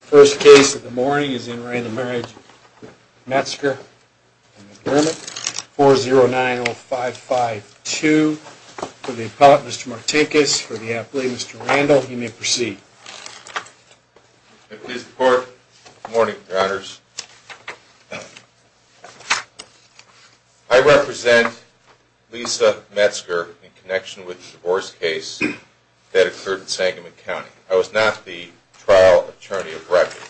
The first case of the morning is in re. the Marriage of Metzger and McDermott, 4090552. For the appellate, Mr. Martinkus. For the athlete, Mr. Randall. You may proceed. Good morning, Mr. Court. Good morning, Your Honors. I represent Lisa Metzger in connection with the divorce case that occurred in Sangamon County. I was not the trial attorney of record.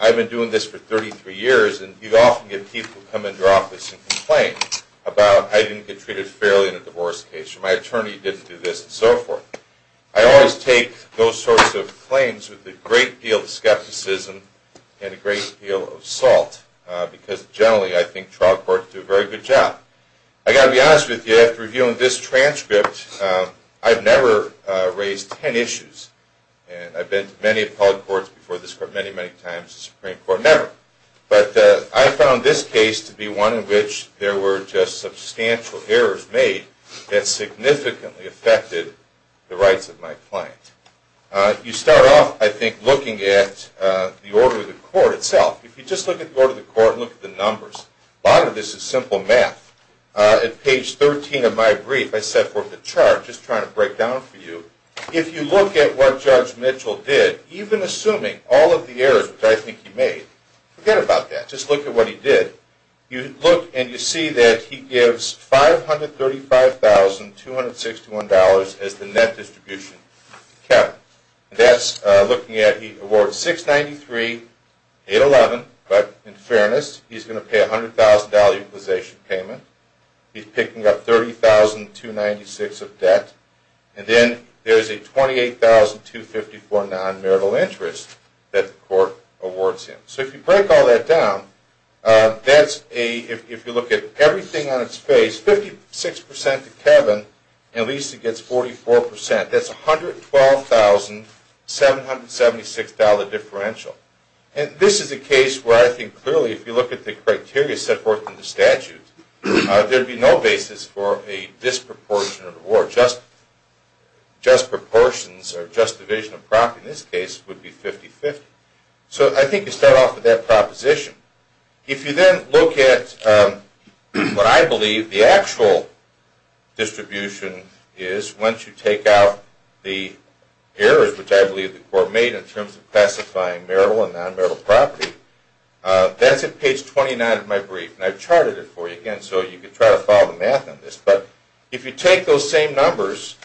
I've been doing this for 33 years, and you often get people come into your office and complain about I didn't get treated fairly in a divorce case, or my attorney didn't do this, and so forth. I always take those sorts of claims with a great deal of skepticism and a great deal of salt, because generally I think trial courts do a very good job. I've got to be honest with you, after reviewing this transcript, I've never raised 10 issues, and I've been to many appellate courts before this court, many, many times, the Supreme Court, never. But I found this case to be one in which there were just substantial errors made that significantly affected the rights of my client. You start off, I think, looking at the order of the court itself. If you just look at the order of the court and look at the numbers, a lot of this is simple math. At page 13 of my brief, I set forth a chart, just trying to break down for you. If you look at what Judge Mitchell did, even assuming all of the errors which I think he made, forget about that, just look at what he did. You look and you see that he gives $535,261 as the net distribution to Kevin. That's looking at, he awards $693,811, but in fairness, he's going to pay a $100,000 utilization payment. He's picking up $30,296 of debt. And then there's a $28,254 non-marital interest that the court awards him. So if you break all that down, if you look at everything on its face, 56% to Kevin, and at least he gets 44%. That's a $112,776 differential. And this is a case where I think, clearly, if you look at the criteria set forth in the statute, there would be no basis for a disproportionate award. Just proportions or just division of property in this case would be 50-50. So I think you start off with that proposition. If you then look at what I believe the actual distribution is once you take out the errors, which I believe the court made in terms of classifying marital and non-marital property, that's at page 29 of my brief, and I've charted it for you again so you can try to follow the math on this. But if you take those same numbers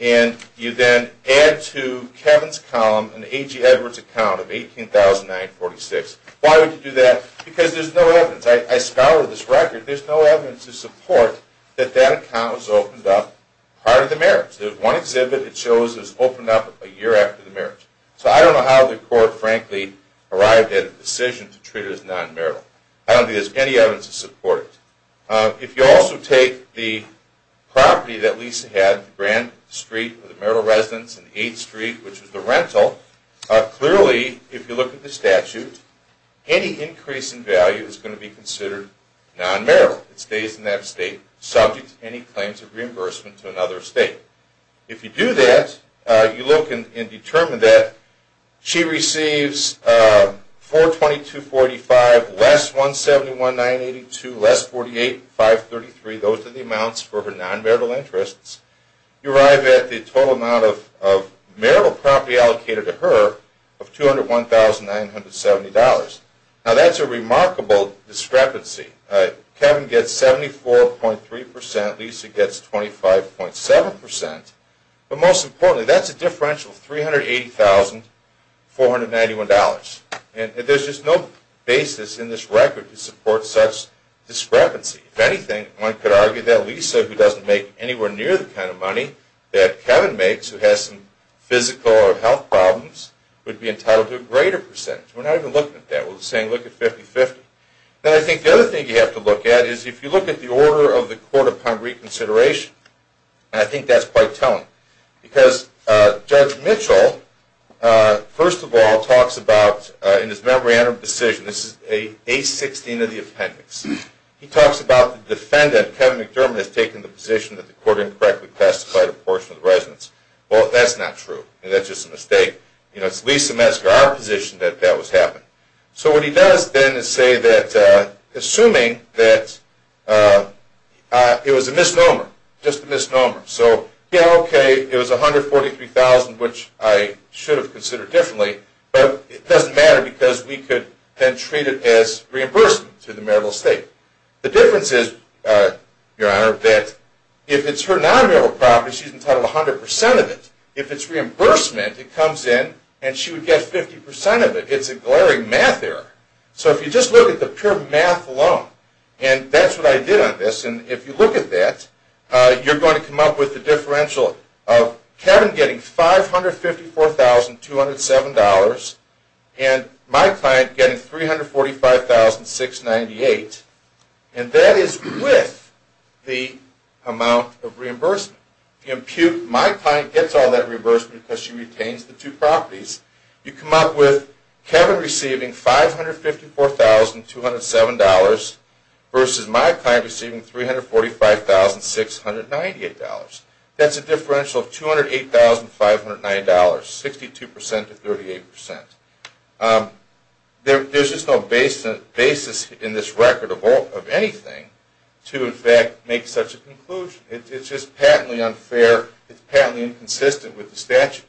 and you then add to Kevin's column an A.G. Edwards account of $18,946, why would you do that? Because there's no evidence. I scoured this record. There's no evidence to support that that account was opened up prior to the marriage. There's one exhibit that shows it was opened up a year after the marriage. So I don't know how the court, frankly, arrived at a decision to treat it as non-marital. I don't think there's any evidence to support it. If you also take the property that Lisa had, Grand Street with the marital residence and 8th Street, which is the rental, clearly, if you look at the statute, any increase in value is going to be considered non-marital. It stays in that state subject to any claims of reimbursement to another state. If you do that, you look and determine that she receives $422.45 less $171,982, less $48,533. Those are the amounts for her non-marital interests. You arrive at the total amount of marital property allocated to her of $201,970. Now that's a remarkable discrepancy. Kevin gets 74.3 percent. Lisa gets 25.7 percent. But most importantly, that's a differential of $380,491. And there's just no basis in this record to support such discrepancy. If anything, one could argue that Lisa, who doesn't make anywhere near the kind of money that Kevin makes, who has some physical or health problems, would be entitled to a greater percentage. We're not even looking at that. We're saying look at 50-50. Then I think the other thing you have to look at is if you look at the order of the court-upon-reconsideration, and I think that's quite telling. Because Judge Mitchell, first of all, talks about in his memorandum of decision, this is 816 of the appendix, he talks about the defendant, Kevin McDermott, has taken the position that the court incorrectly classified a portion of the residence. Well, that's not true. That's just a mistake. It's Lisa Metzger, our position, that that was happening. So what he does then is say that assuming that it was a misnomer, just a misnomer, so yeah, okay, it was $143,000, which I should have considered differently, but it doesn't matter because we could then treat it as reimbursement to the marital estate. The difference is, Your Honor, that if it's her non-marital property, she's entitled to 100% of it. If it's reimbursement, it comes in and she would get 50% of it. It's a glaring math error. So if you just look at the pure math alone, and that's what I did on this, and if you look at that, you're going to come up with the differential of Kevin getting $554,207 and my client getting $345,698, and that is with the amount of reimbursement. My client gets all that reimbursement because she retains the two properties. You come up with Kevin receiving $554,207 versus my client receiving $345,698. That's a differential of $208,509, 62% to 38%. There's just no basis in this record of anything to in fact make such a conclusion. It's just patently unfair. It's patently inconsistent with the statute.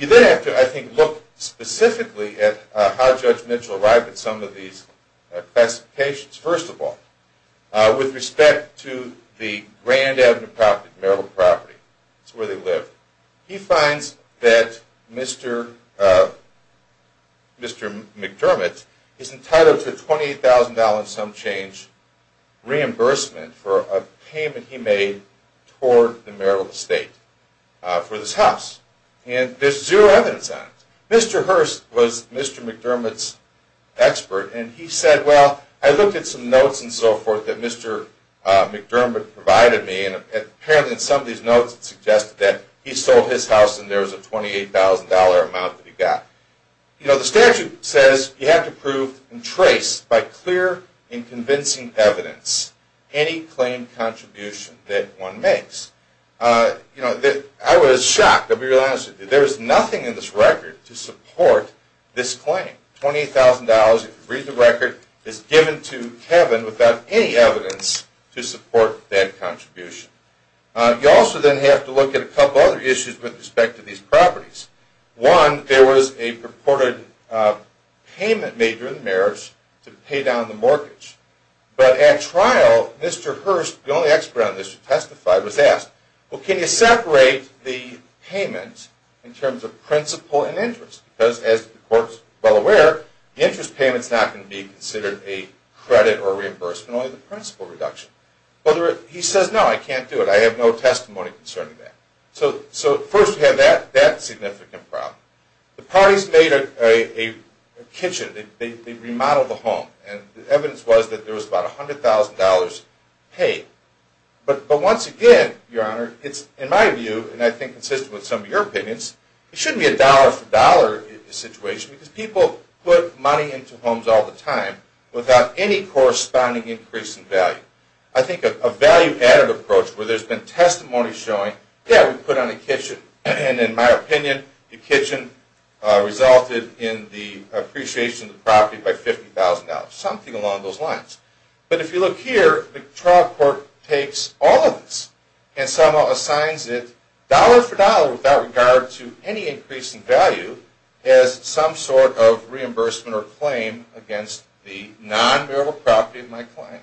You then have to, I think, look specifically at how Judge Mitchell arrived at some of these classifications. First of all, with respect to the Grand Avenue property, marital property, that's where they live, he finds that Mr. McDermott is entitled to a $28,000 and some change reimbursement for a payment he made toward the marital estate for this house, and there's zero evidence on it. Mr. Hearst was Mr. McDermott's expert, and he said, well, I looked at some notes and so forth that Mr. McDermott provided me, and apparently in some of these notes it suggested that he sold his house and there was a $28,000 amount that he got. The statute says you have to prove and trace by clear and convincing evidence any claim contribution that one makes. I was shocked to realize that there is nothing in this record to support this claim. $28,000, if you read the record, is given to Kevin without any evidence to support that contribution. You also then have to look at a couple other issues with respect to these properties. One, there was a purported payment made during the marriage to pay down the mortgage, but at trial, Mr. Hearst, the only expert on this who testified, was asked, well, can you separate the payment in terms of principal and interest? Because as the court is well aware, the interest payment is not going to be considered a credit or reimbursement, only the principal reduction. He says, no, I can't do it. I have no testimony concerning that. So first we have that significant problem. The parties made a kitchen. They remodeled the home, and the evidence was that there was about $100,000 paid. But once again, Your Honor, in my view, and I think consistent with some of your opinions, it shouldn't be a dollar-for-dollar situation, because people put money into homes all the time without any corresponding increase in value. I think a value-added approach, where there's been testimony showing, yeah, we put on a kitchen, and in my opinion, the kitchen resulted in the appreciation of the property by $50,000, something along those lines. But if you look here, the trial court takes all of this and somehow assigns it dollar-for-dollar without regard to any increase in value as some sort of reimbursement or claim against the non-bearable property of my client.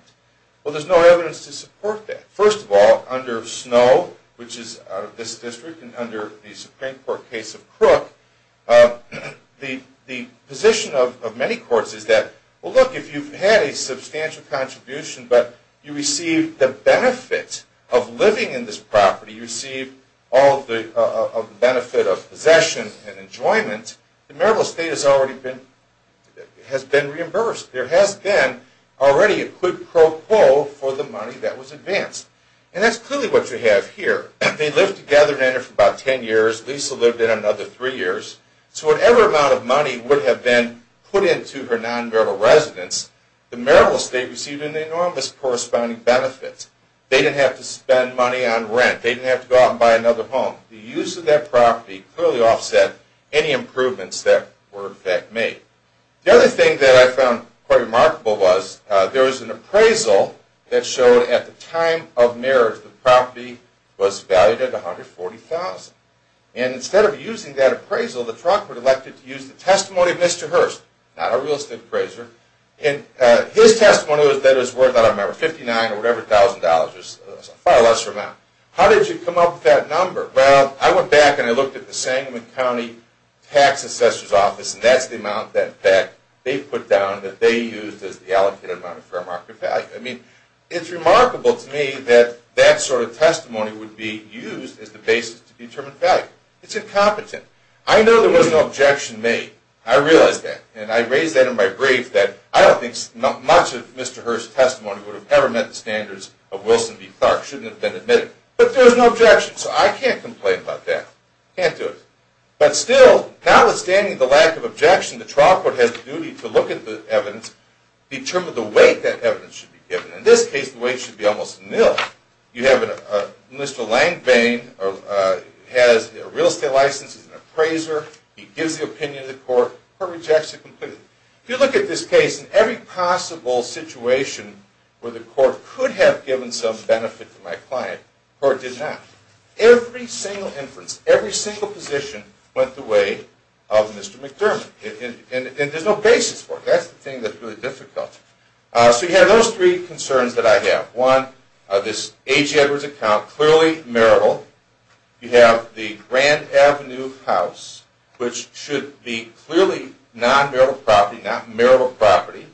Well, there's no evidence to support that. First of all, under Snow, which is out of this district, and under the Supreme Court case of Crook, the position of many courts is that, well, look, if you've had a substantial contribution but you receive the benefit of living in this property, you receive all of the benefit of possession and enjoyment, the marital estate has already been reimbursed. There has been already a quid pro quo for the money that was advanced. And that's clearly what you have here. They lived together in there for about 10 years. Lisa lived there another three years. So whatever amount of money would have been put into her non-bearable residence, the marital estate received an enormous corresponding benefit. They didn't have to spend money on rent. They didn't have to go out and buy another home. The use of that property clearly offset any improvements that were in fact made. The other thing that I found quite remarkable was there was an appraisal that showed at the time of marriage the property was valued at $140,000. And instead of using that appraisal, the trunk was elected to use the testimony of Mr. Hurst, not a real estate appraiser, and his testimony was that it was worth, I don't remember, $59,000 or whatever thousand dollars, a far lesser amount. How did you come up with that number? Well, I went back and I looked at the Sangamon County Tax Assessor's Office, and that's the amount that they put down that they used as the allocated amount of fair market value. I mean, it's remarkable to me that that sort of testimony would be used as the basis to determine value. It's incompetent. I know there was no objection made. I realize that, and I raised that in my brief that I don't think much of Mr. Hurst's testimony would have ever met the standards of Wilson v. Clark. It shouldn't have been admitted. But there was no objection, so I can't complain about that. Can't do it. But still, notwithstanding the lack of objection, the trial court has the duty to look at the evidence, determine the weight that evidence should be given. In this case, the weight should be almost nil. You have Mr. Langvane has a real estate license, he's an appraiser, he gives the opinion to the court, the court rejects it completely. If you look at this case, in every possible situation where the court could have given some benefit to my client, the court did not. Every single inference, every single position went the way of Mr. McDermott. And there's no basis for it. That's the thing that's really difficult. So you have those three concerns that I have. One, this A.G. Edwards account, clearly marital. You have the Grand Avenue house, which should be clearly non-marital property, not marital property.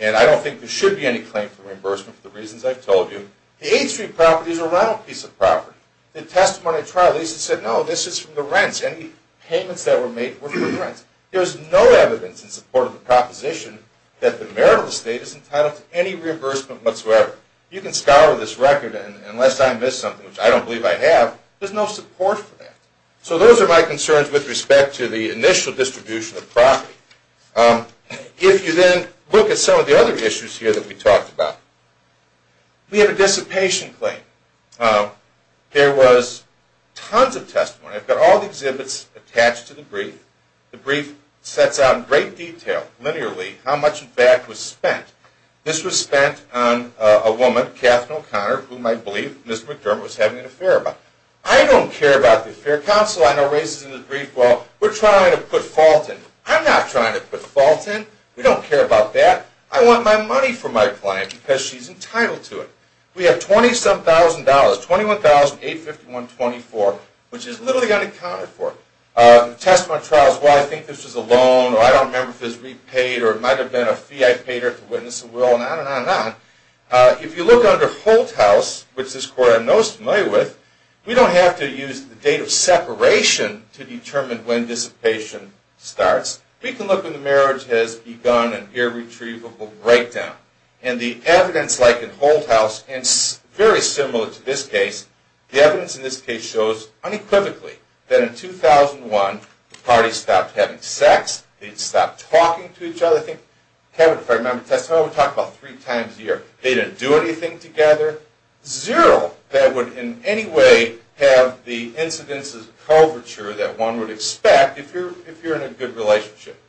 And I don't think there should be any claim for reimbursement for the reasons I've told you. The 8th Street property is a rental piece of property. The testimony trial, Lisa said, no, this is from the rents. Any payments that were made were from the rents. There's no evidence in support of the proposition that the marital estate is entitled to any reimbursement whatsoever. You can scour this record and unless I miss something, which I don't believe I have, there's no support for that. So those are my concerns with respect to the initial distribution of property. If you then look at some of the other issues here that we talked about, we have a dissipation claim. There was tons of testimony. I've got all the exhibits attached to the brief. The brief sets out in great detail, linearly, how much in fact was spent. This was spent on a woman, Kath Noe Conner, whom I believe Mr. McDermott was having an affair about. I don't care about the affair. Counsel I know raises in the brief, well, we're trying to put fault in. I'm not trying to put fault in. We don't care about that. I want my money from my client because she's entitled to it. We have $27,000, $21,851.24, which is literally unaccounted for. Testimony trials, well, I think this was a loan, or I don't remember if it was repaid, or it might have been a fee I paid her to witness the will, and on and on and on. If you look under Holt House, which this court I'm most familiar with, we don't have to use the date of separation to determine when dissipation starts. We can look when the marriage has begun an irretrievable breakdown. And the evidence, like in Holt House, and very similar to this case, the evidence in this case shows unequivocally that in 2001 the parties stopped having sex. They stopped talking to each other. I think Kevin, if I remember correctly, we talked about three times a year. They didn't do anything together. Zero that would in any way have the incidence of coverture that one would expect if you're in a good relationship.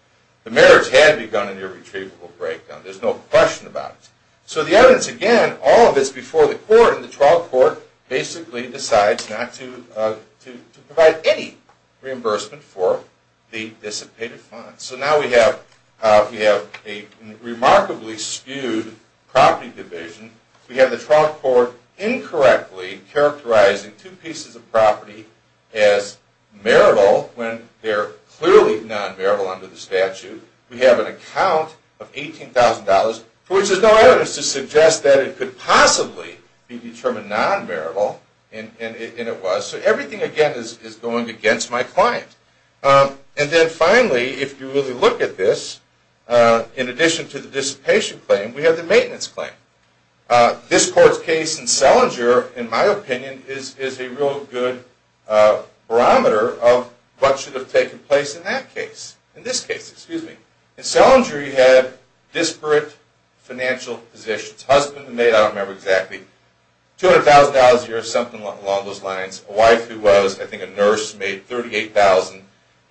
The marriage had begun an irretrievable breakdown. There's no question about it. So the evidence, again, all of this before the court, and the trial court basically decides not to provide any reimbursement for the dissipated funds. So now we have a remarkably skewed property division. We have the trial court incorrectly characterizing two pieces of property as marital when they're clearly non-marital under the statute. We have an account of $18,000 for which there's no evidence to suggest that it could possibly be determined non-marital, and it was. So everything, again, is going against my client. And then finally, if you really look at this, in addition to the dissipation claim, we have the maintenance claim. This court's case in Selinger, in my opinion, is a real good barometer of what should have taken place in that case. In this case, excuse me. In Selinger, you had disparate financial positions. Husband and maid, I don't remember exactly. $200,000 a year or something along those lines. A wife who was, I think, a nurse made $38,000.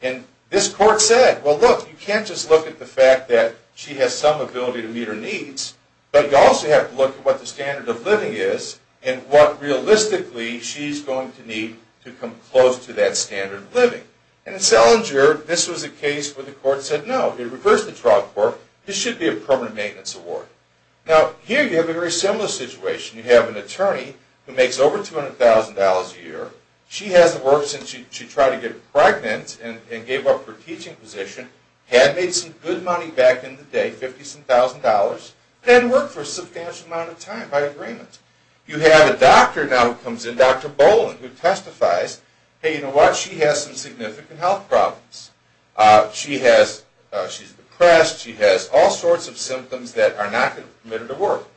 And this court said, well, look, you can't just look at the fact that she has some ability to meet her needs, but you also have to look at what the standard of living is and what, realistically, she's going to need to come close to that standard of living. And in Selinger, this was a case where the court said no. It reversed the trial court. This should be a permanent maintenance award. Now, here you have a very similar situation. You have an attorney who makes over $200,000 a year. She has the work since she tried to get pregnant and gave up her teaching position, had made some good money back in the day, $50,000, and worked for a substantial amount of time by agreement. You have a doctor now who comes in, Dr. Boland, who testifies, hey, you know what, she has some significant health problems. She's depressed. She has all sorts of symptoms that are not going to permit her to work.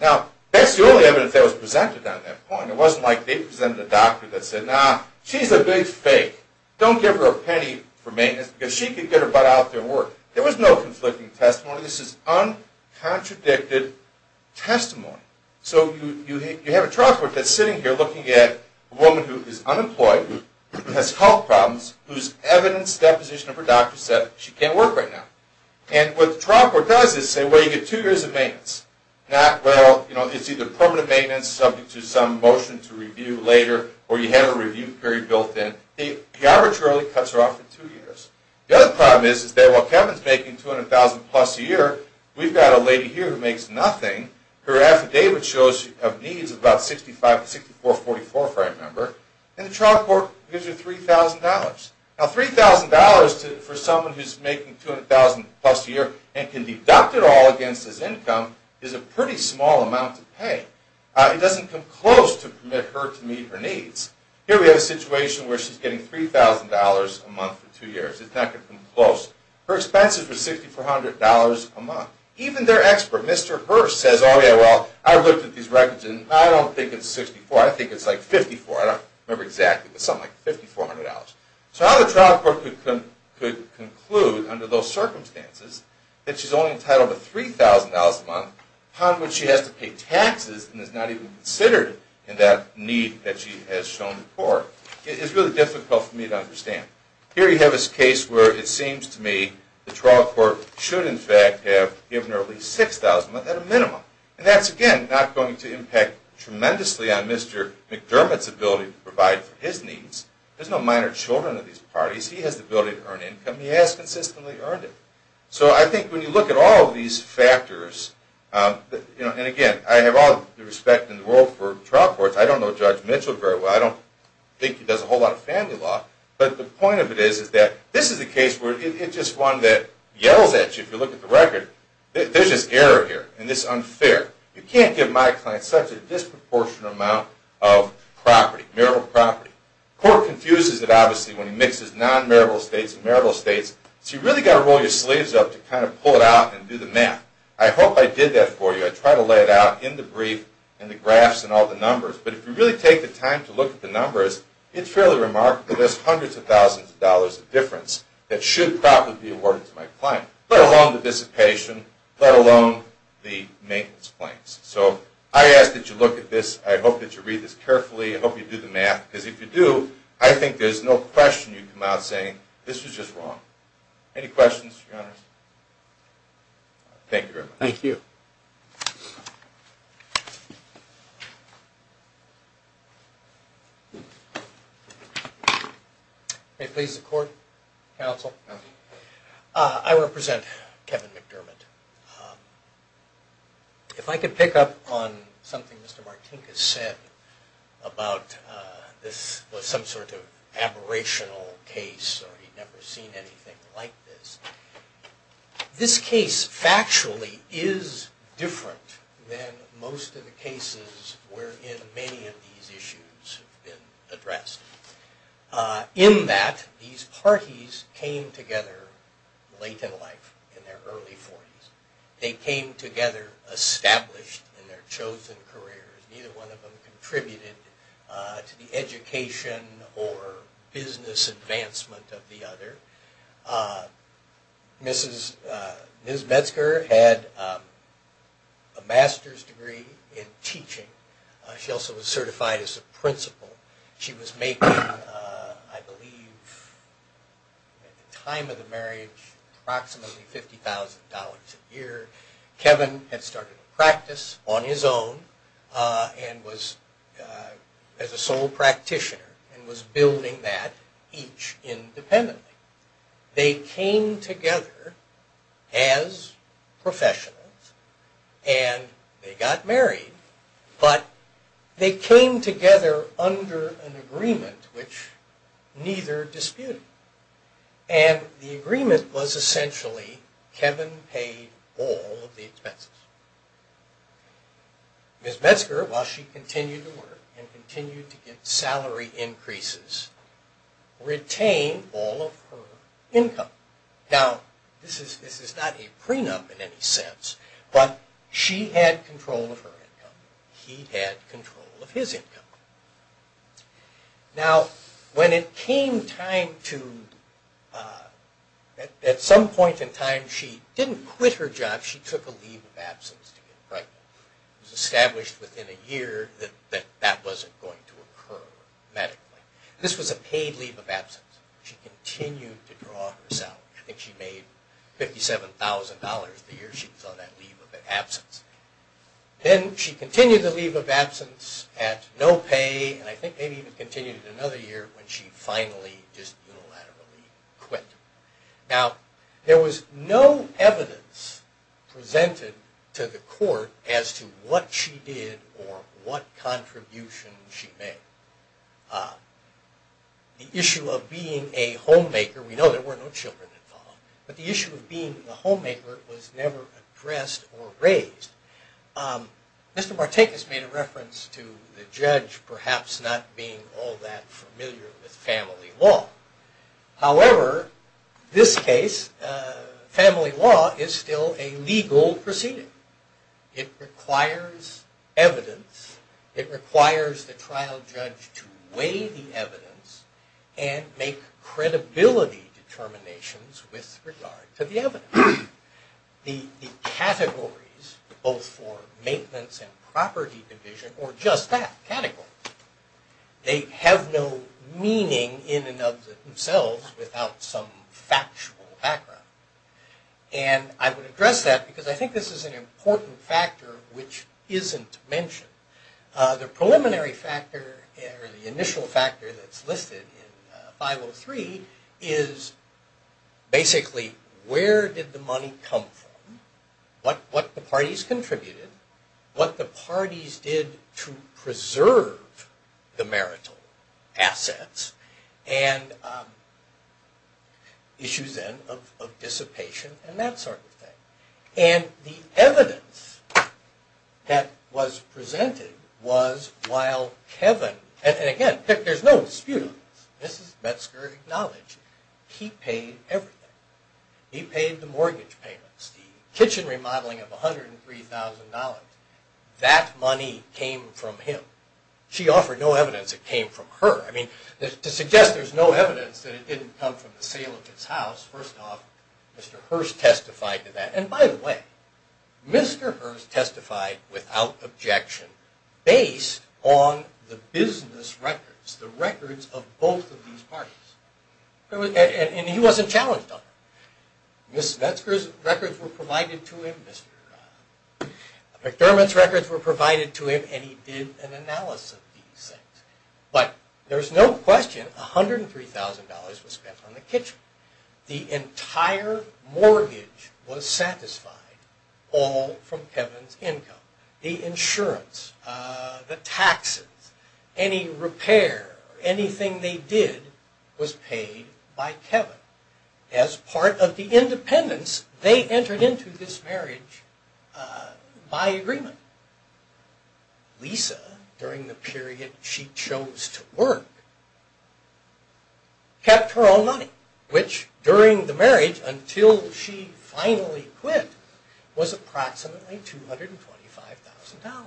Now, that's the only evidence that was presented on that point. It wasn't like they presented a doctor that said, nah, she's a big fake. Don't give her a penny for maintenance because she could get her butt out there and work. There was no conflicting testimony. This is uncontradicted testimony. So you have a trial court that's sitting here looking at a woman who is unemployed, has health problems, whose evidence deposition of her doctor said she can't work right now. And what the trial court does is say, well, you get two years of maintenance. Well, it's either permanent maintenance subject to some motion to review later or you have a review period built in. The average really cuts her off for two years. The other problem is that while Kevin is making $200,000 plus a year, we've got a lady here who makes nothing. Her affidavit shows she has needs of about $65,000 to $64,000, if I remember. And the trial court gives her $3,000. Now, $3,000 for someone who is making $200,000 plus a year It doesn't come close to permit her to meet her needs. Here we have a situation where she's getting $3,000 a month for two years. It's not going to come close. Her expenses were $6,400 a month. Even their expert, Mr. Hurst, says, oh, yeah, well, I've looked at these records and I don't think it's $64,000. I think it's like $54,000. I don't remember exactly, but something like $5,400. So how the trial court could conclude under those circumstances that she's only entitled to $3,000 a month, upon which she has to pay taxes and is not even considered in that need that she has shown before, is really difficult for me to understand. Here you have this case where it seems to me the trial court should, in fact, have given her at least $6,000 a month at a minimum. And that's, again, not going to impact tremendously on Mr. McDermott's ability to provide for his needs. There's no minor children in these parties. He has the ability to earn income. He has consistently earned it. So I think when you look at all of these factors, and again, I have all the respect in the world for trial courts. I don't know Judge Mitchell very well. I don't think he does a whole lot of family law. But the point of it is that this is a case where it's just one that yells at you if you look at the record. There's this error here, and it's unfair. You can't give my client such a disproportionate amount of property, marital property. Court confuses it, obviously, when he mixes non-marital estates and marital estates. So you've really got to roll your sleeves up to kind of pull it out and do the math. I hope I did that for you. I tried to lay it out in the brief and the graphs and all the numbers. But if you really take the time to look at the numbers, it's fairly remarkable there's hundreds of thousands of dollars of difference that should probably be awarded to my client, let alone the dissipation, let alone the maintenance claims. So I ask that you look at this. I hope that you read this carefully. I hope you do the math, because if you do, I think there's no question you come out saying, this was just wrong. Any questions, Your Honor? Thank you very much. Thank you. May it please the Court, Counsel? I represent Kevin McDermott. If I could pick up on something Mr. Martinkus said about this was some sort of aberrational case or he'd never seen anything like this. This case, factually, is different than most of the cases wherein many of these issues have been addressed. In that, these parties came together late in life, in their early 40s, they came together established in their chosen careers. Neither one of them contributed to the education or business advancement of the other. Ms. Metzger had a master's degree in teaching. She also was certified as a principal. She was making, I believe, at the time of the marriage, approximately $50,000 a year. Kevin had started a practice on his own as a sole practitioner and was building that each independently. They came together as professionals and they got married but they came together under an agreement which neither disputed. The agreement was essentially Kevin paid all of the expenses. Ms. Metzger, while she continued to work and continued to get salary increases, retained all of her income. This is not a prenup in any sense but she had control of her income. He had control of his income. When it came time to... At some point in time, she didn't quit her job. She took a leave of absence to get pregnant. It was established within a year that that wasn't going to occur medically. This was a paid leave of absence. She continued to draw her salary. I think she made $57,000 a year. She saw that leave of absence. She continued the leave of absence at no pay and I think maybe even continued another year when she finally just unilaterally quit. There was no evidence presented to the court as to what she did or what contribution she made. The issue of being a homemaker, we know there were no children involved, but the issue of being a homemaker was never addressed or raised. Mr. Martinkus made a reference to the judge perhaps not being all that familiar with family law. However, this case family law is still a legal proceeding. It requires evidence. It requires the trial judge to weigh the evidence and make credibility determinations with regard to the evidence. The categories both for maintenance and property division or just that category, they have no meaning in and of themselves without some factual background. I would address that because I think this is an important factor which isn't mentioned. The preliminary factor or the initial factor that's listed in 503 is basically where did the money come from, what the parties contributed, what the parties did to preserve the marital assets and issues then of dissipation and that sort of thing. The evidence that was presented was while Kevin, and again there's no dispute on this. Mrs. Metzger acknowledged he paid everything. He paid the mortgage payments, the kitchen remodeling of $103,000. That money came from him. She offered no evidence it came from her. To suggest there's no evidence that it didn't come from the sale of his house, first off Mr. Hirst testified to that. And by the way, Mr. Hirst testified without objection based on the business records, the records of both of these parties. And he wasn't challenged on it. Mrs. Metzger's records were provided to him. McDermott's records were provided to him and he did an analysis of these things. But there's no question $103,000 was spent on the kitchen. The entire mortgage was satisfied all from Kevin's income. The insurance, the taxes, any repair, anything they did was paid by Kevin. As part of the independence they entered into this marriage by agreement. Lisa during the period she chose to work kept her own money which during the marriage until she finally quit was approximately $225,000.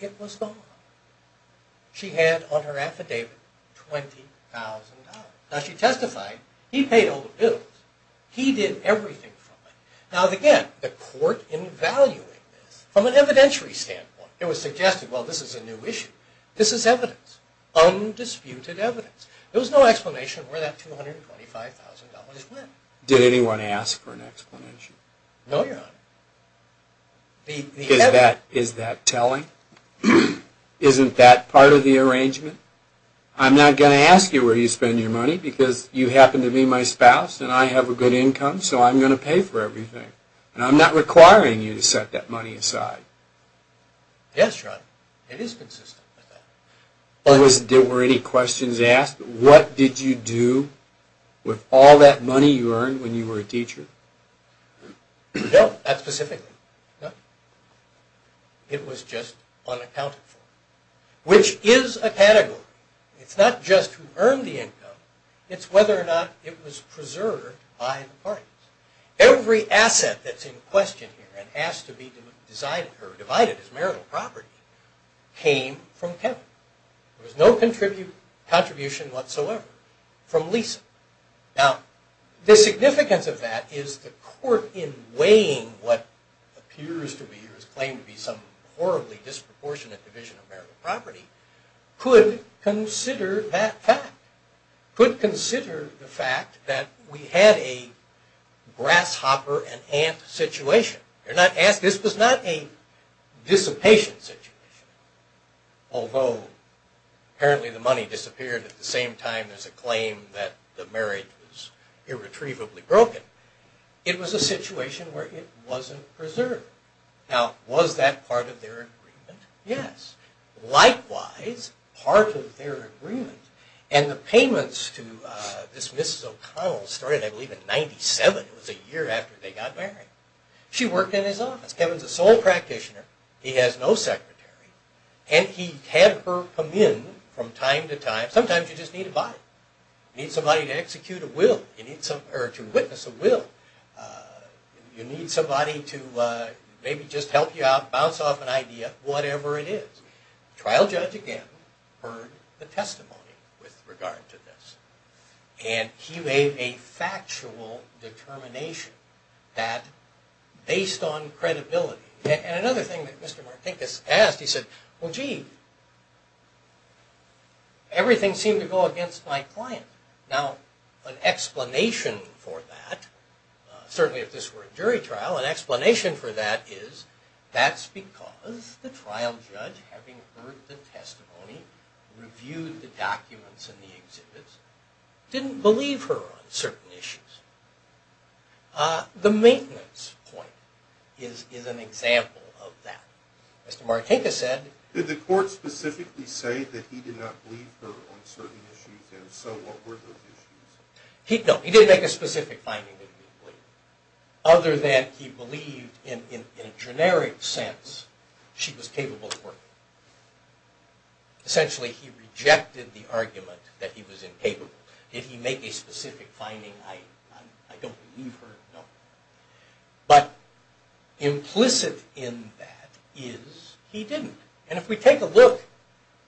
It was gone. She had on her affidavit $20,000. Now she testified he paid all the bills. He did everything from it. Now again the court in valuing this from an evidentiary standpoint it was suggested well this is a new issue. This is evidence. Undisputed evidence. There was no explanation where that $225,000 went. Did anyone ask for an explanation? No your honor. Is that telling? Isn't that part of the arrangement? I'm not going to ask you where you spend your money because you happen to be my spouse and I have a good income so I'm going to pay for everything. And I'm not requiring you to set that money aside. Yes your were any questions asked? What did you do with all that money you earned when you were a teacher? No. Not specifically. No. It was just unaccounted for. Which is a category. It's not just who earned the income. It's whether or not it was preserved by the parties. Every asset that's in question here and has to be divided as marital property came from Kevin. There was no contribution whatsoever from Lisa. Now the significance of that is the court in weighing what appears to be or is claimed to be some horribly disproportionate division of marital property could consider that fact. Could consider the fact that we had a grasshopper and ant situation. This was not a dissipation situation. Although apparently the money disappeared at the same time there's a claim that the marriage was irretrievably broken. It was a situation where it wasn't preserved. Now was that part of their agreement? Yes. Likewise part of their agreement and the payments to this Mrs. O'Connell started I believe in 97 but it was a year after they got married. She worked in his office. Kevin's a sole practitioner. He has no secretary and he had her come in from time to time. Sometimes you just need a body. You need somebody to execute a will. You need somebody to witness a will. You need somebody to maybe just help you out, bounce off an idea, whatever it is. Trial judge again heard the testimony with regard to this. And he made a factual determination that based on credibility. And another thing that Mr. Martinkus asked he said well gee everything seemed to go against my client. Now an explanation for that certainly if this were a jury trial an explanation for that is that's because the trial judge having heard the testimony reviewed the documents and the exhibits didn't believe her on certain issues. The maintenance point is an example of that. Mr. Martinkus said... Did the court specifically say that he did not believe her on certain issues and so what were those issues? No, he didn't make a specific finding that he believed. Other than he believed in a generic sense she was capable of working. Essentially he rejected the argument that he was incapable. Did he make a specific finding? I don't believe her, no. But implicit in that is he didn't. And if we take a look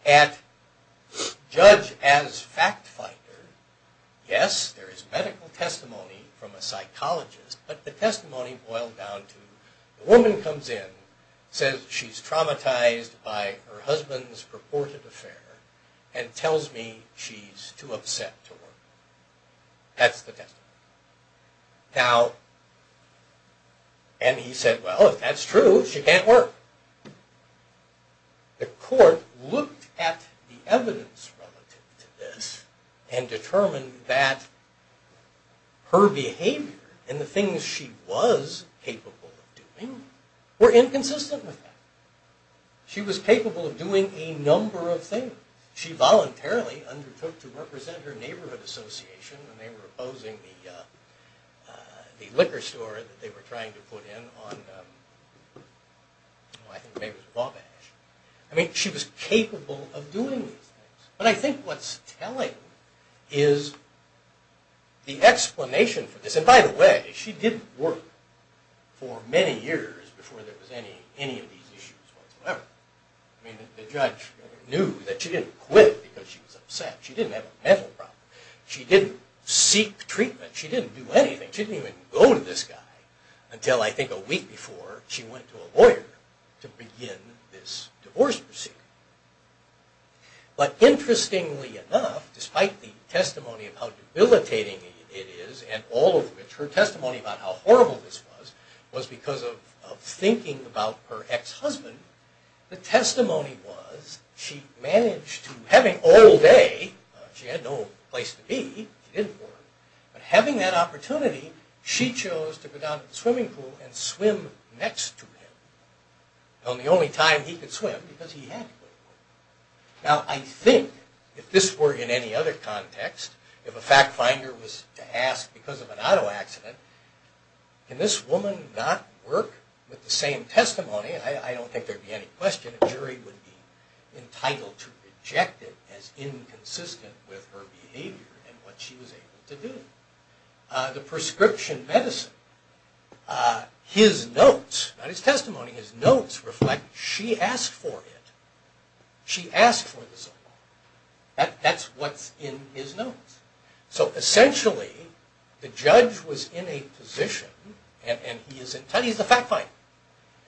at judge as fact fighter yes there is medical testimony from a psychologist, but the testimony boiled down to a woman comes in, says she's traumatized by her husband's purported affair and tells me she's too upset to work. That's the testimony. And he said well if that's true she can't work. The court looked at the evidence relative to this and determined that her behavior and the things she was capable of doing were inconsistent with that. She was capable of doing a number of things. She voluntarily undertook to represent her neighborhood association when they were opposing the liquor store that they were trying to put in on I think maybe it was Wabash. I mean she was capable of doing these things. But I think what's telling is the explanation for this, and by the way she didn't work for many years before there was any of these issues whatsoever. I mean the judge knew that she didn't quit because she was upset. She didn't have a mental problem. She didn't seek treatment. She didn't do anything. She didn't even go to this guy until I think a week before she went to a lawyer to begin this divorce procedure. But interestingly enough, despite the testimony of how debilitating it is and all of which, her testimony about how horrible this was, was because of thinking about her ex-husband. The testimony was she managed to having all day, she had no place to be she didn't work, but having that opportunity she chose to go down to the swimming pool and swim next to him on the only time he could swim because he had to go to the pool. Now I think if this were in any other context, if a fact finder was to ask because of an auto accident can this woman not work with the same testimony, I don't think there would be any question a jury would be entitled to reject it as inconsistent with her behavior and what she was able to do. The prescription medicine his notes, not his testimony his notes reflect she asked for it she asked for the soap. That's what's in his notes. So essentially the judge was in a position and he's the fact finder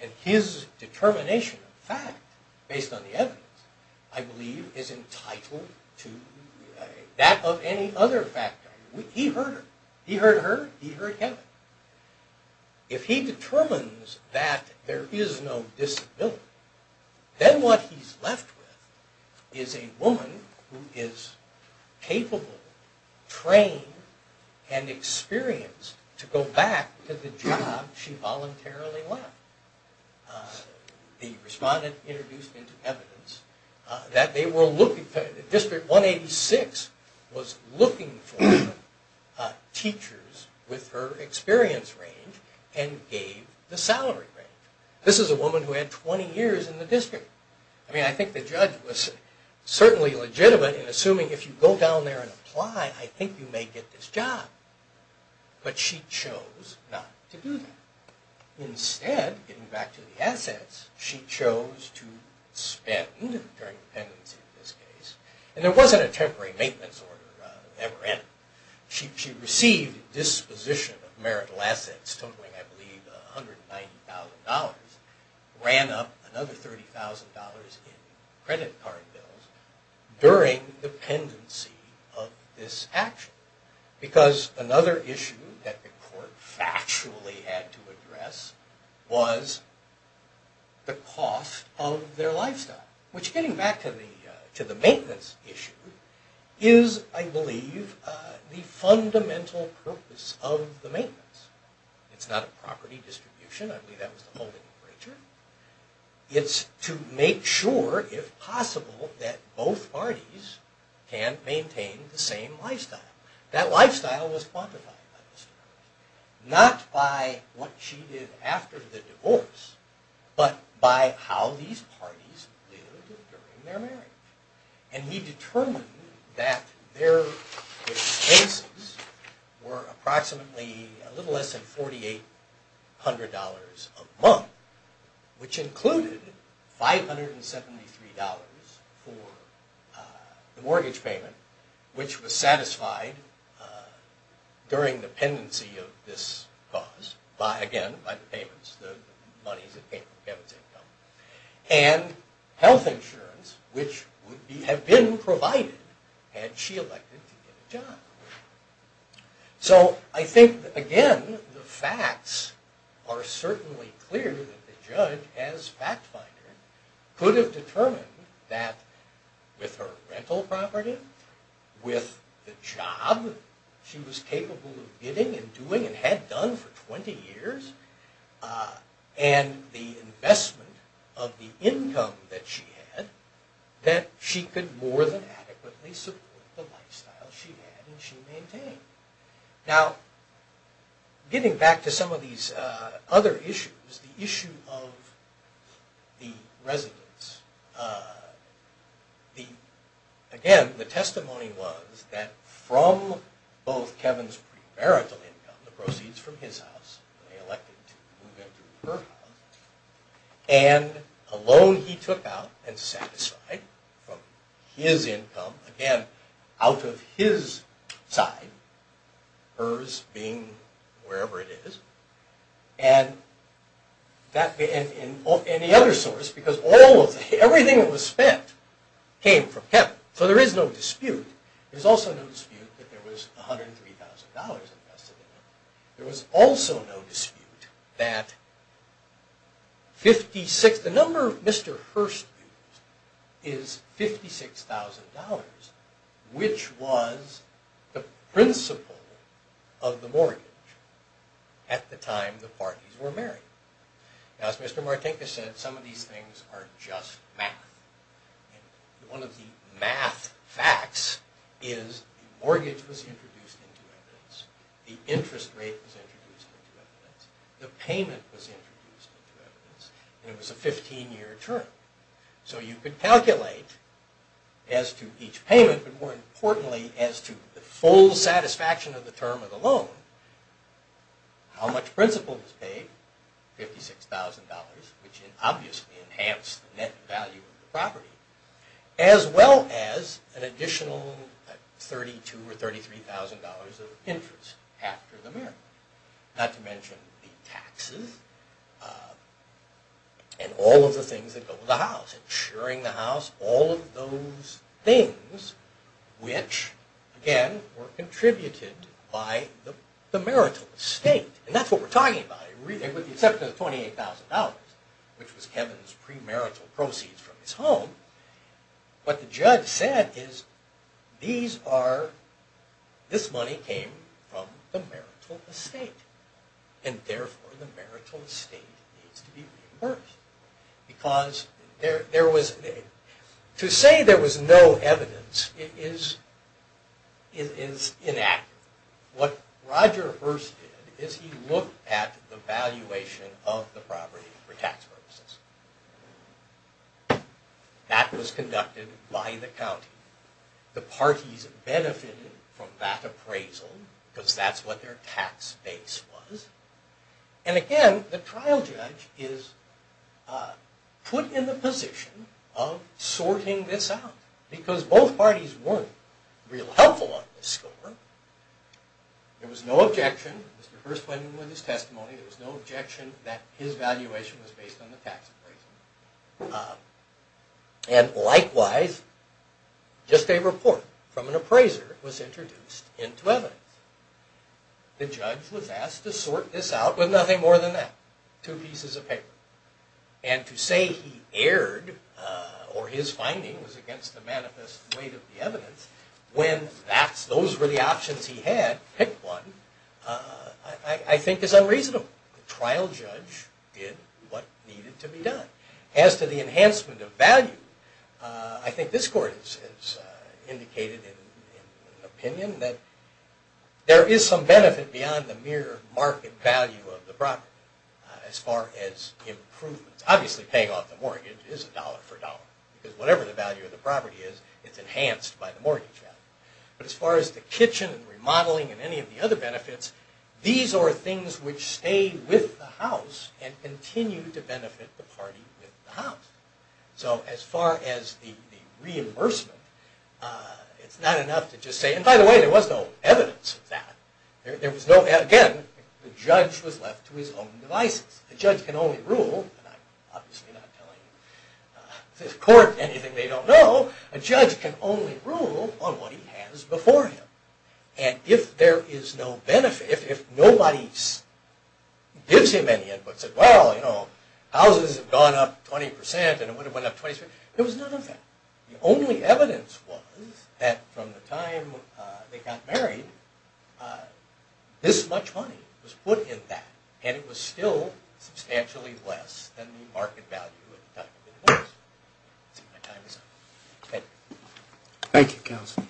and his determination of fact based on the evidence I believe is entitled to that of any other fact finder. He heard her, he heard Kevin. If he determines that there is no disability, then what he's left with is a woman who is capable, trained and experienced to go back to the job she voluntarily left. The respondent introduced into evidence that they were looking District 186 was looking for teachers with her experience range and gave the salary range. This is a woman who had 20 years in the district. I mean I think the judge was certainly legitimate in assuming if you go down there and apply I think you may get this job but she chose not to do that. Instead, getting back to the assets, she chose to spend during dependency in this case and there wasn't a temporary maintenance order ever in it. She received disposition of marital assets totaling I believe $190,000. Ran up another $30,000 in credit card bills during dependency of this action. Because another issue that the court factually had to address was the cost of their lifestyle. Which getting back to the maintenance issue is I believe the fundamental purpose of the maintenance. It's not a property distribution. I believe that was the whole nature. It's to make sure, if possible that both parties can maintain the same lifestyle. That lifestyle was quantified by Mr. Murray. Not by what she did after the divorce, but by how these parties lived during their marriage. And he determined that their expenses were approximately a little less than $4,800 a month, which included $573 for the mortgage payment, which was satisfied during dependency of this cause, again, by the payments, the monies that came from Kevin's income. And health insurance, which would have been provided had she elected to get a job. So I think again, the facts are certainly clear that the judge, as fact finder, could have determined that with her rental property, with the job she was capable of getting and doing and had done for 20 years, and the investment of the income that she had, that she could more than adequately support the lifestyle she had and she maintained. Now, getting back to some of these other issues, the issue of the residence. Again, the testimony was that from both Kevin's pre-marital income, the proceeds from his house, they elected to move into her house, and a loan he took out and satisfied from his income, again, out of his side, hers being wherever it is. And the other source, because everything that was spent came from that there was $103,000 invested in it, there was also no dispute that 56, the number Mr. Hurst used is $56,000 which was the principle of the mortgage at the time the parties were married. Now, as Mr. Martinkus said, some of these things are just math. One of the math facts is the mortgage was introduced into evidence, the interest rate was introduced into evidence, the payment was introduced into evidence, and it was a 15-year term. So you could calculate as to each payment, but more importantly as to the full satisfaction of the term of the loan, how much principle was paid, $56,000 which obviously enhanced the net value of the property, as well as an additional $32,000 or $33,000 of interest after the marriage. Not to mention the taxes and all of the things that go with the house, insuring the house, all of those things which, again, were contributed by the marital estate. And that's what we're talking about, with the exception of $28,000 which was Kevin's premarital proceeds from his home. What the judge said is this money came from the marital estate and therefore the marital estate needs to be reimbursed. To say there was no evidence is inaccurate. What Roger Hearst did is he looked at the valuation of the property for tax purposes. That was conducted by the county. The parties benefited from that appraisal because that's what their tax base was. And again, the trial judge is put in the position of sorting this out because both parties weren't real helpful on this score. There was no objection. Mr. Hearst went in with his testimony. There was no objection that his valuation was based on the tax appraisal. And likewise, just a report from an appraiser was introduced into evidence. The judge was asked to sort this out with nothing more than that. Two pieces of paper. And to say he erred or his finding was against the manifest weight of the evidence when those were the options he had, pick one, I think is unreasonable. The trial judge did what needed to be done. As to the enhancement of value, I think this court has indicated an opinion that there is some benefit beyond the mere market value of the property as far as improvements. Obviously paying off the mortgage is a dollar for dollar because whatever the value of the property is, it's enhanced by the mortgage value. But as far as the kitchen and remodeling and any of the other benefits, these are things which stay with the house and continue to benefit the party with the house. So as far as the reimbursement, it's not enough to just say, and by the way, there was no evidence of that. Again, the judge was left to his own devices. The judge can only tell the court anything they don't know. A judge can only rule on what he has before him. And if there is no benefit, if nobody gives him any input and says, well, you know, houses have gone up 20% and it would have went up 20%, there was none of that. The only evidence was that from the time they got married, this much money was put in that and it was still substantially less than the market value. Thank you, counsel.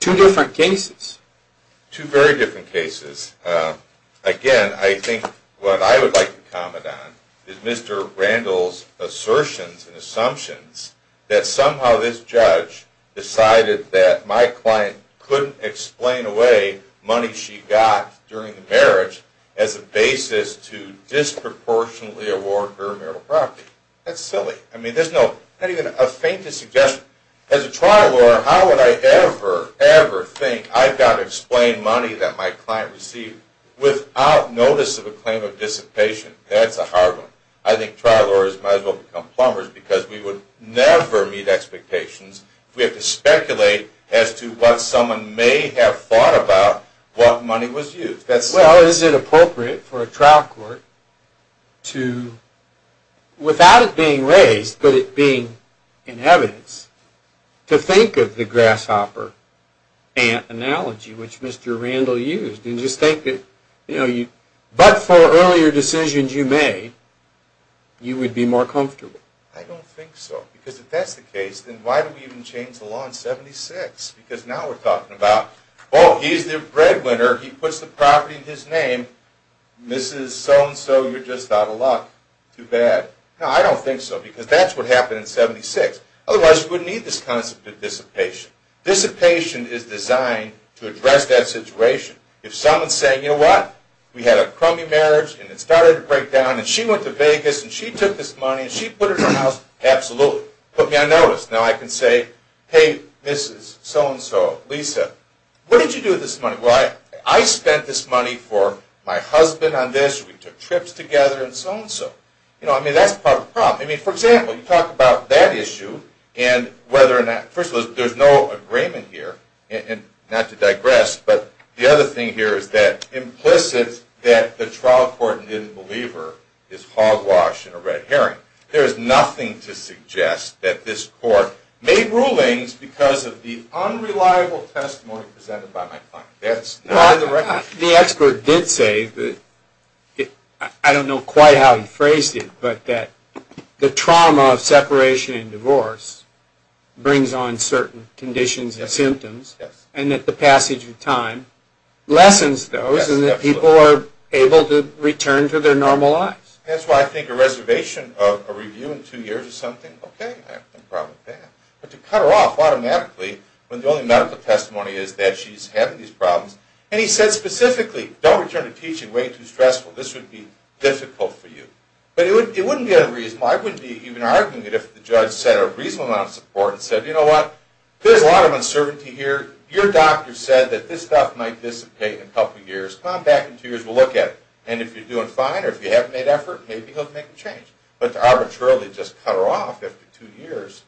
Two different cases. Two very different cases. Again, I think what I would like to comment on is Mr. Randall's assertions and assumptions that somehow this judge decided that my client couldn't explain away money she got during the marriage as a basis to disproportionately award her marital property. That's silly. There's not even a faintest suggestion. As a trial lawyer, how would I ever, ever think I've got to explain money that my client received without notice of a claim of dissipation? That's a hard one. I think trial lawyers might as well become plumbers because we would never meet expectations if we had to speculate as to what someone may have thought about what money was used. Well, is it appropriate for a trial court to, without it being raised, but it being in evidence, to think of the grasshopper ant analogy which Mr. Randall used and just think that but for earlier decisions you made you would be more comfortable? I don't think so. Because if that's the case, then why do we even change the law in 76? Because now we're talking about, oh, he's the breadwinner, he puts the property in his name, Mrs. So-and-so, you're just out of luck. Too bad. No, I don't think so because that's what happened in 76. Otherwise, you wouldn't need this concept of dissipation. Dissipation is designed to address that situation. If someone's saying, you know what, we had a crummy marriage and it started to break down and she went to Vegas and she took this money and she put it in her house, absolutely. Put me on notice. Now I can say, hey, Mrs. So-and-so, Lisa, what did you do with this money? Well, I spent this money for my husband on this, we took trips together and so-and-so. I mean, that's part of the problem. I mean, for example, you talk about that issue and whether or not, first of all, there's no agreement here, not to digress, but the other thing here is that implicit that the trial court didn't believe her is hogwash and a red herring. There is nothing to suggest that this court made rulings because of the unreliable testimony presented by my client. The expert did say, I don't know quite how he phrased it, but that the trauma of separation and divorce brings on certain conditions and symptoms and that the passage of time lessens those and that people are able to return to their normal lives. That's why I think a reservation of a review in two years or something, okay, I have no problem with that. But to cut her off automatically when the only medical testimony is that she's having these problems. And he said specifically, don't return to teaching way too stressful. This would be difficult for you. But it wouldn't be unreasonable. I wouldn't be even arguing it if the judge said a reasonable amount of support and said, you know what, there's a lot of uncertainty here. Your doctor said that this stuff might dissipate in a couple years. Come on back in two years, we'll look at it. And if you're doing fine or if you haven't made effort, maybe he'll make a change. But to arbitrarily just cut her off after two years.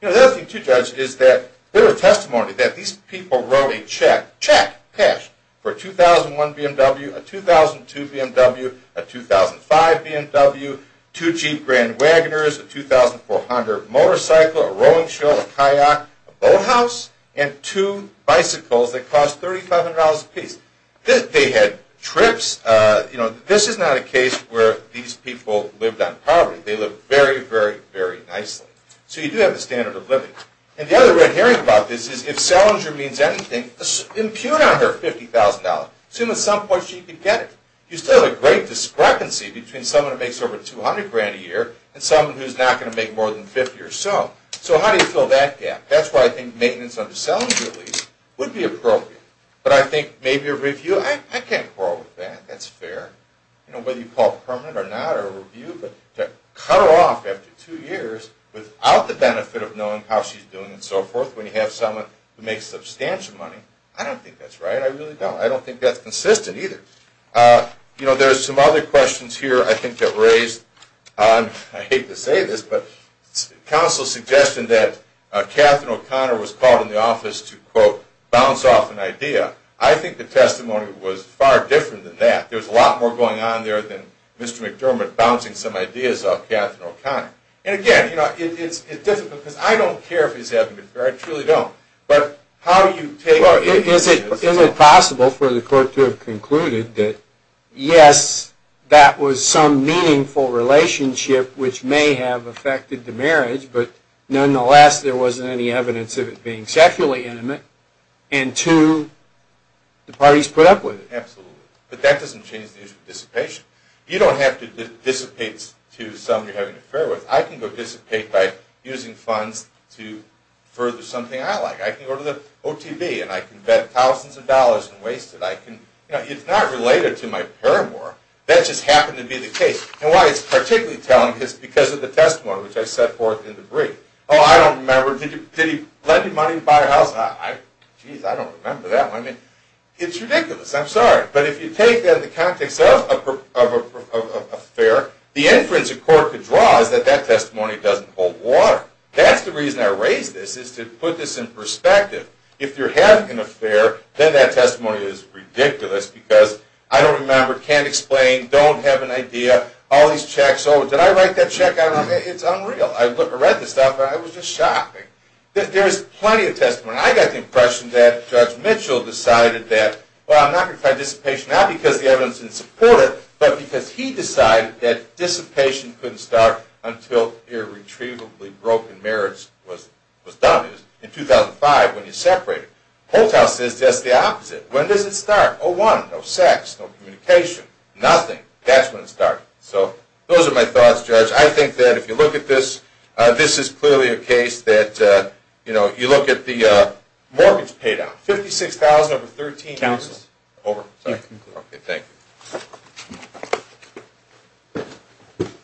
You know, the other thing too, Judge, is that there are testimonies that these people wrote a check, check, cash, for a 2001 BMW, a 2002 BMW, a 2005 BMW, two Jeep Grand Wagoners, a 2400 motorcycle, a rowing show, a kayak, a boathouse, and two bicycles that cost $3,500 apiece. They had trips. This is not a case where these people lived on poverty. They lived very, very, very nicely. So you do have the standard of living. And the other way of hearing about this is if Selinger means anything, impugn on her $50,000. Assume at some point she can get it. You still have a great discrepancy between someone who makes over $200,000 a year and someone who's not going to make more than $50,000 or so. So how do you fill that gap? That's why I think maintenance under Selinger, at least, would be appropriate. But I think maybe a review. I can't quarrel with that. That's fair. Whether you call it permanent or not, or a review. But to cut her off after two years without the benefit of knowing how she's doing and so forth when you have someone who makes substantial money, I don't think that's right. I really don't. I don't think that's consistent either. There's some other questions here I think that raised on, I hate to say this, but counsel's suggestion that Katherine O'Connor was called in the office to, quote, bounce off an idea. I think the testimony was far different than that. There was a lot more going on there than Mr. McDermott bouncing some ideas off Katherine O'Connor. And again, it's difficult because I don't care if he's having an affair. I truly don't. But how do you take... Is it possible for the court to have concluded that yes, that was some meaningful relationship which may have affected the marriage, but nonetheless there wasn't any evidence of it being sexually intimate, and two, the parties put up with it? Absolutely. But that doesn't change the issue of dissipation. You don't have to dissipate to someone you're having an affair with. I can go dissipate by using funds to further something I like. I can go to the OTB and I can bet thousands of dollars and waste it. It's not related to my paramour. That just happened to be the case. And why it's particularly telling is because of the testimony which I set forth in the brief. Oh, I don't remember. Did he lend you money to buy a house? Geez, I don't remember that one. It's ridiculous. I'm sorry. But if you take that in the context of an affair, the inference a court could draw is that that testimony doesn't hold water. That's the reason I raise this, is to put this in perspective. If you're having an affair, then that testimony is ridiculous because I don't remember, can't explain, don't have an idea, all these checks. Oh, did I write that check? It's unreal. I read the stuff and I was just shocked. There is plenty of testimony. I got the impression that Judge Mitchell decided that, well, I'm not going to try dissipation, not because the evidence didn't support it, but because he decided that dissipation couldn't start until irretrievably broken marriage was done. It was in 2005 when you separated. Holthaus says just the opposite. When does it start? 2001. No sex, no communication, nothing. That's when it started. So those are my thoughts, Judge. I think that if you look at this, this is clearly a case that you look at the mortgage paydown, $56,000 over 13 years. Over. Thank you.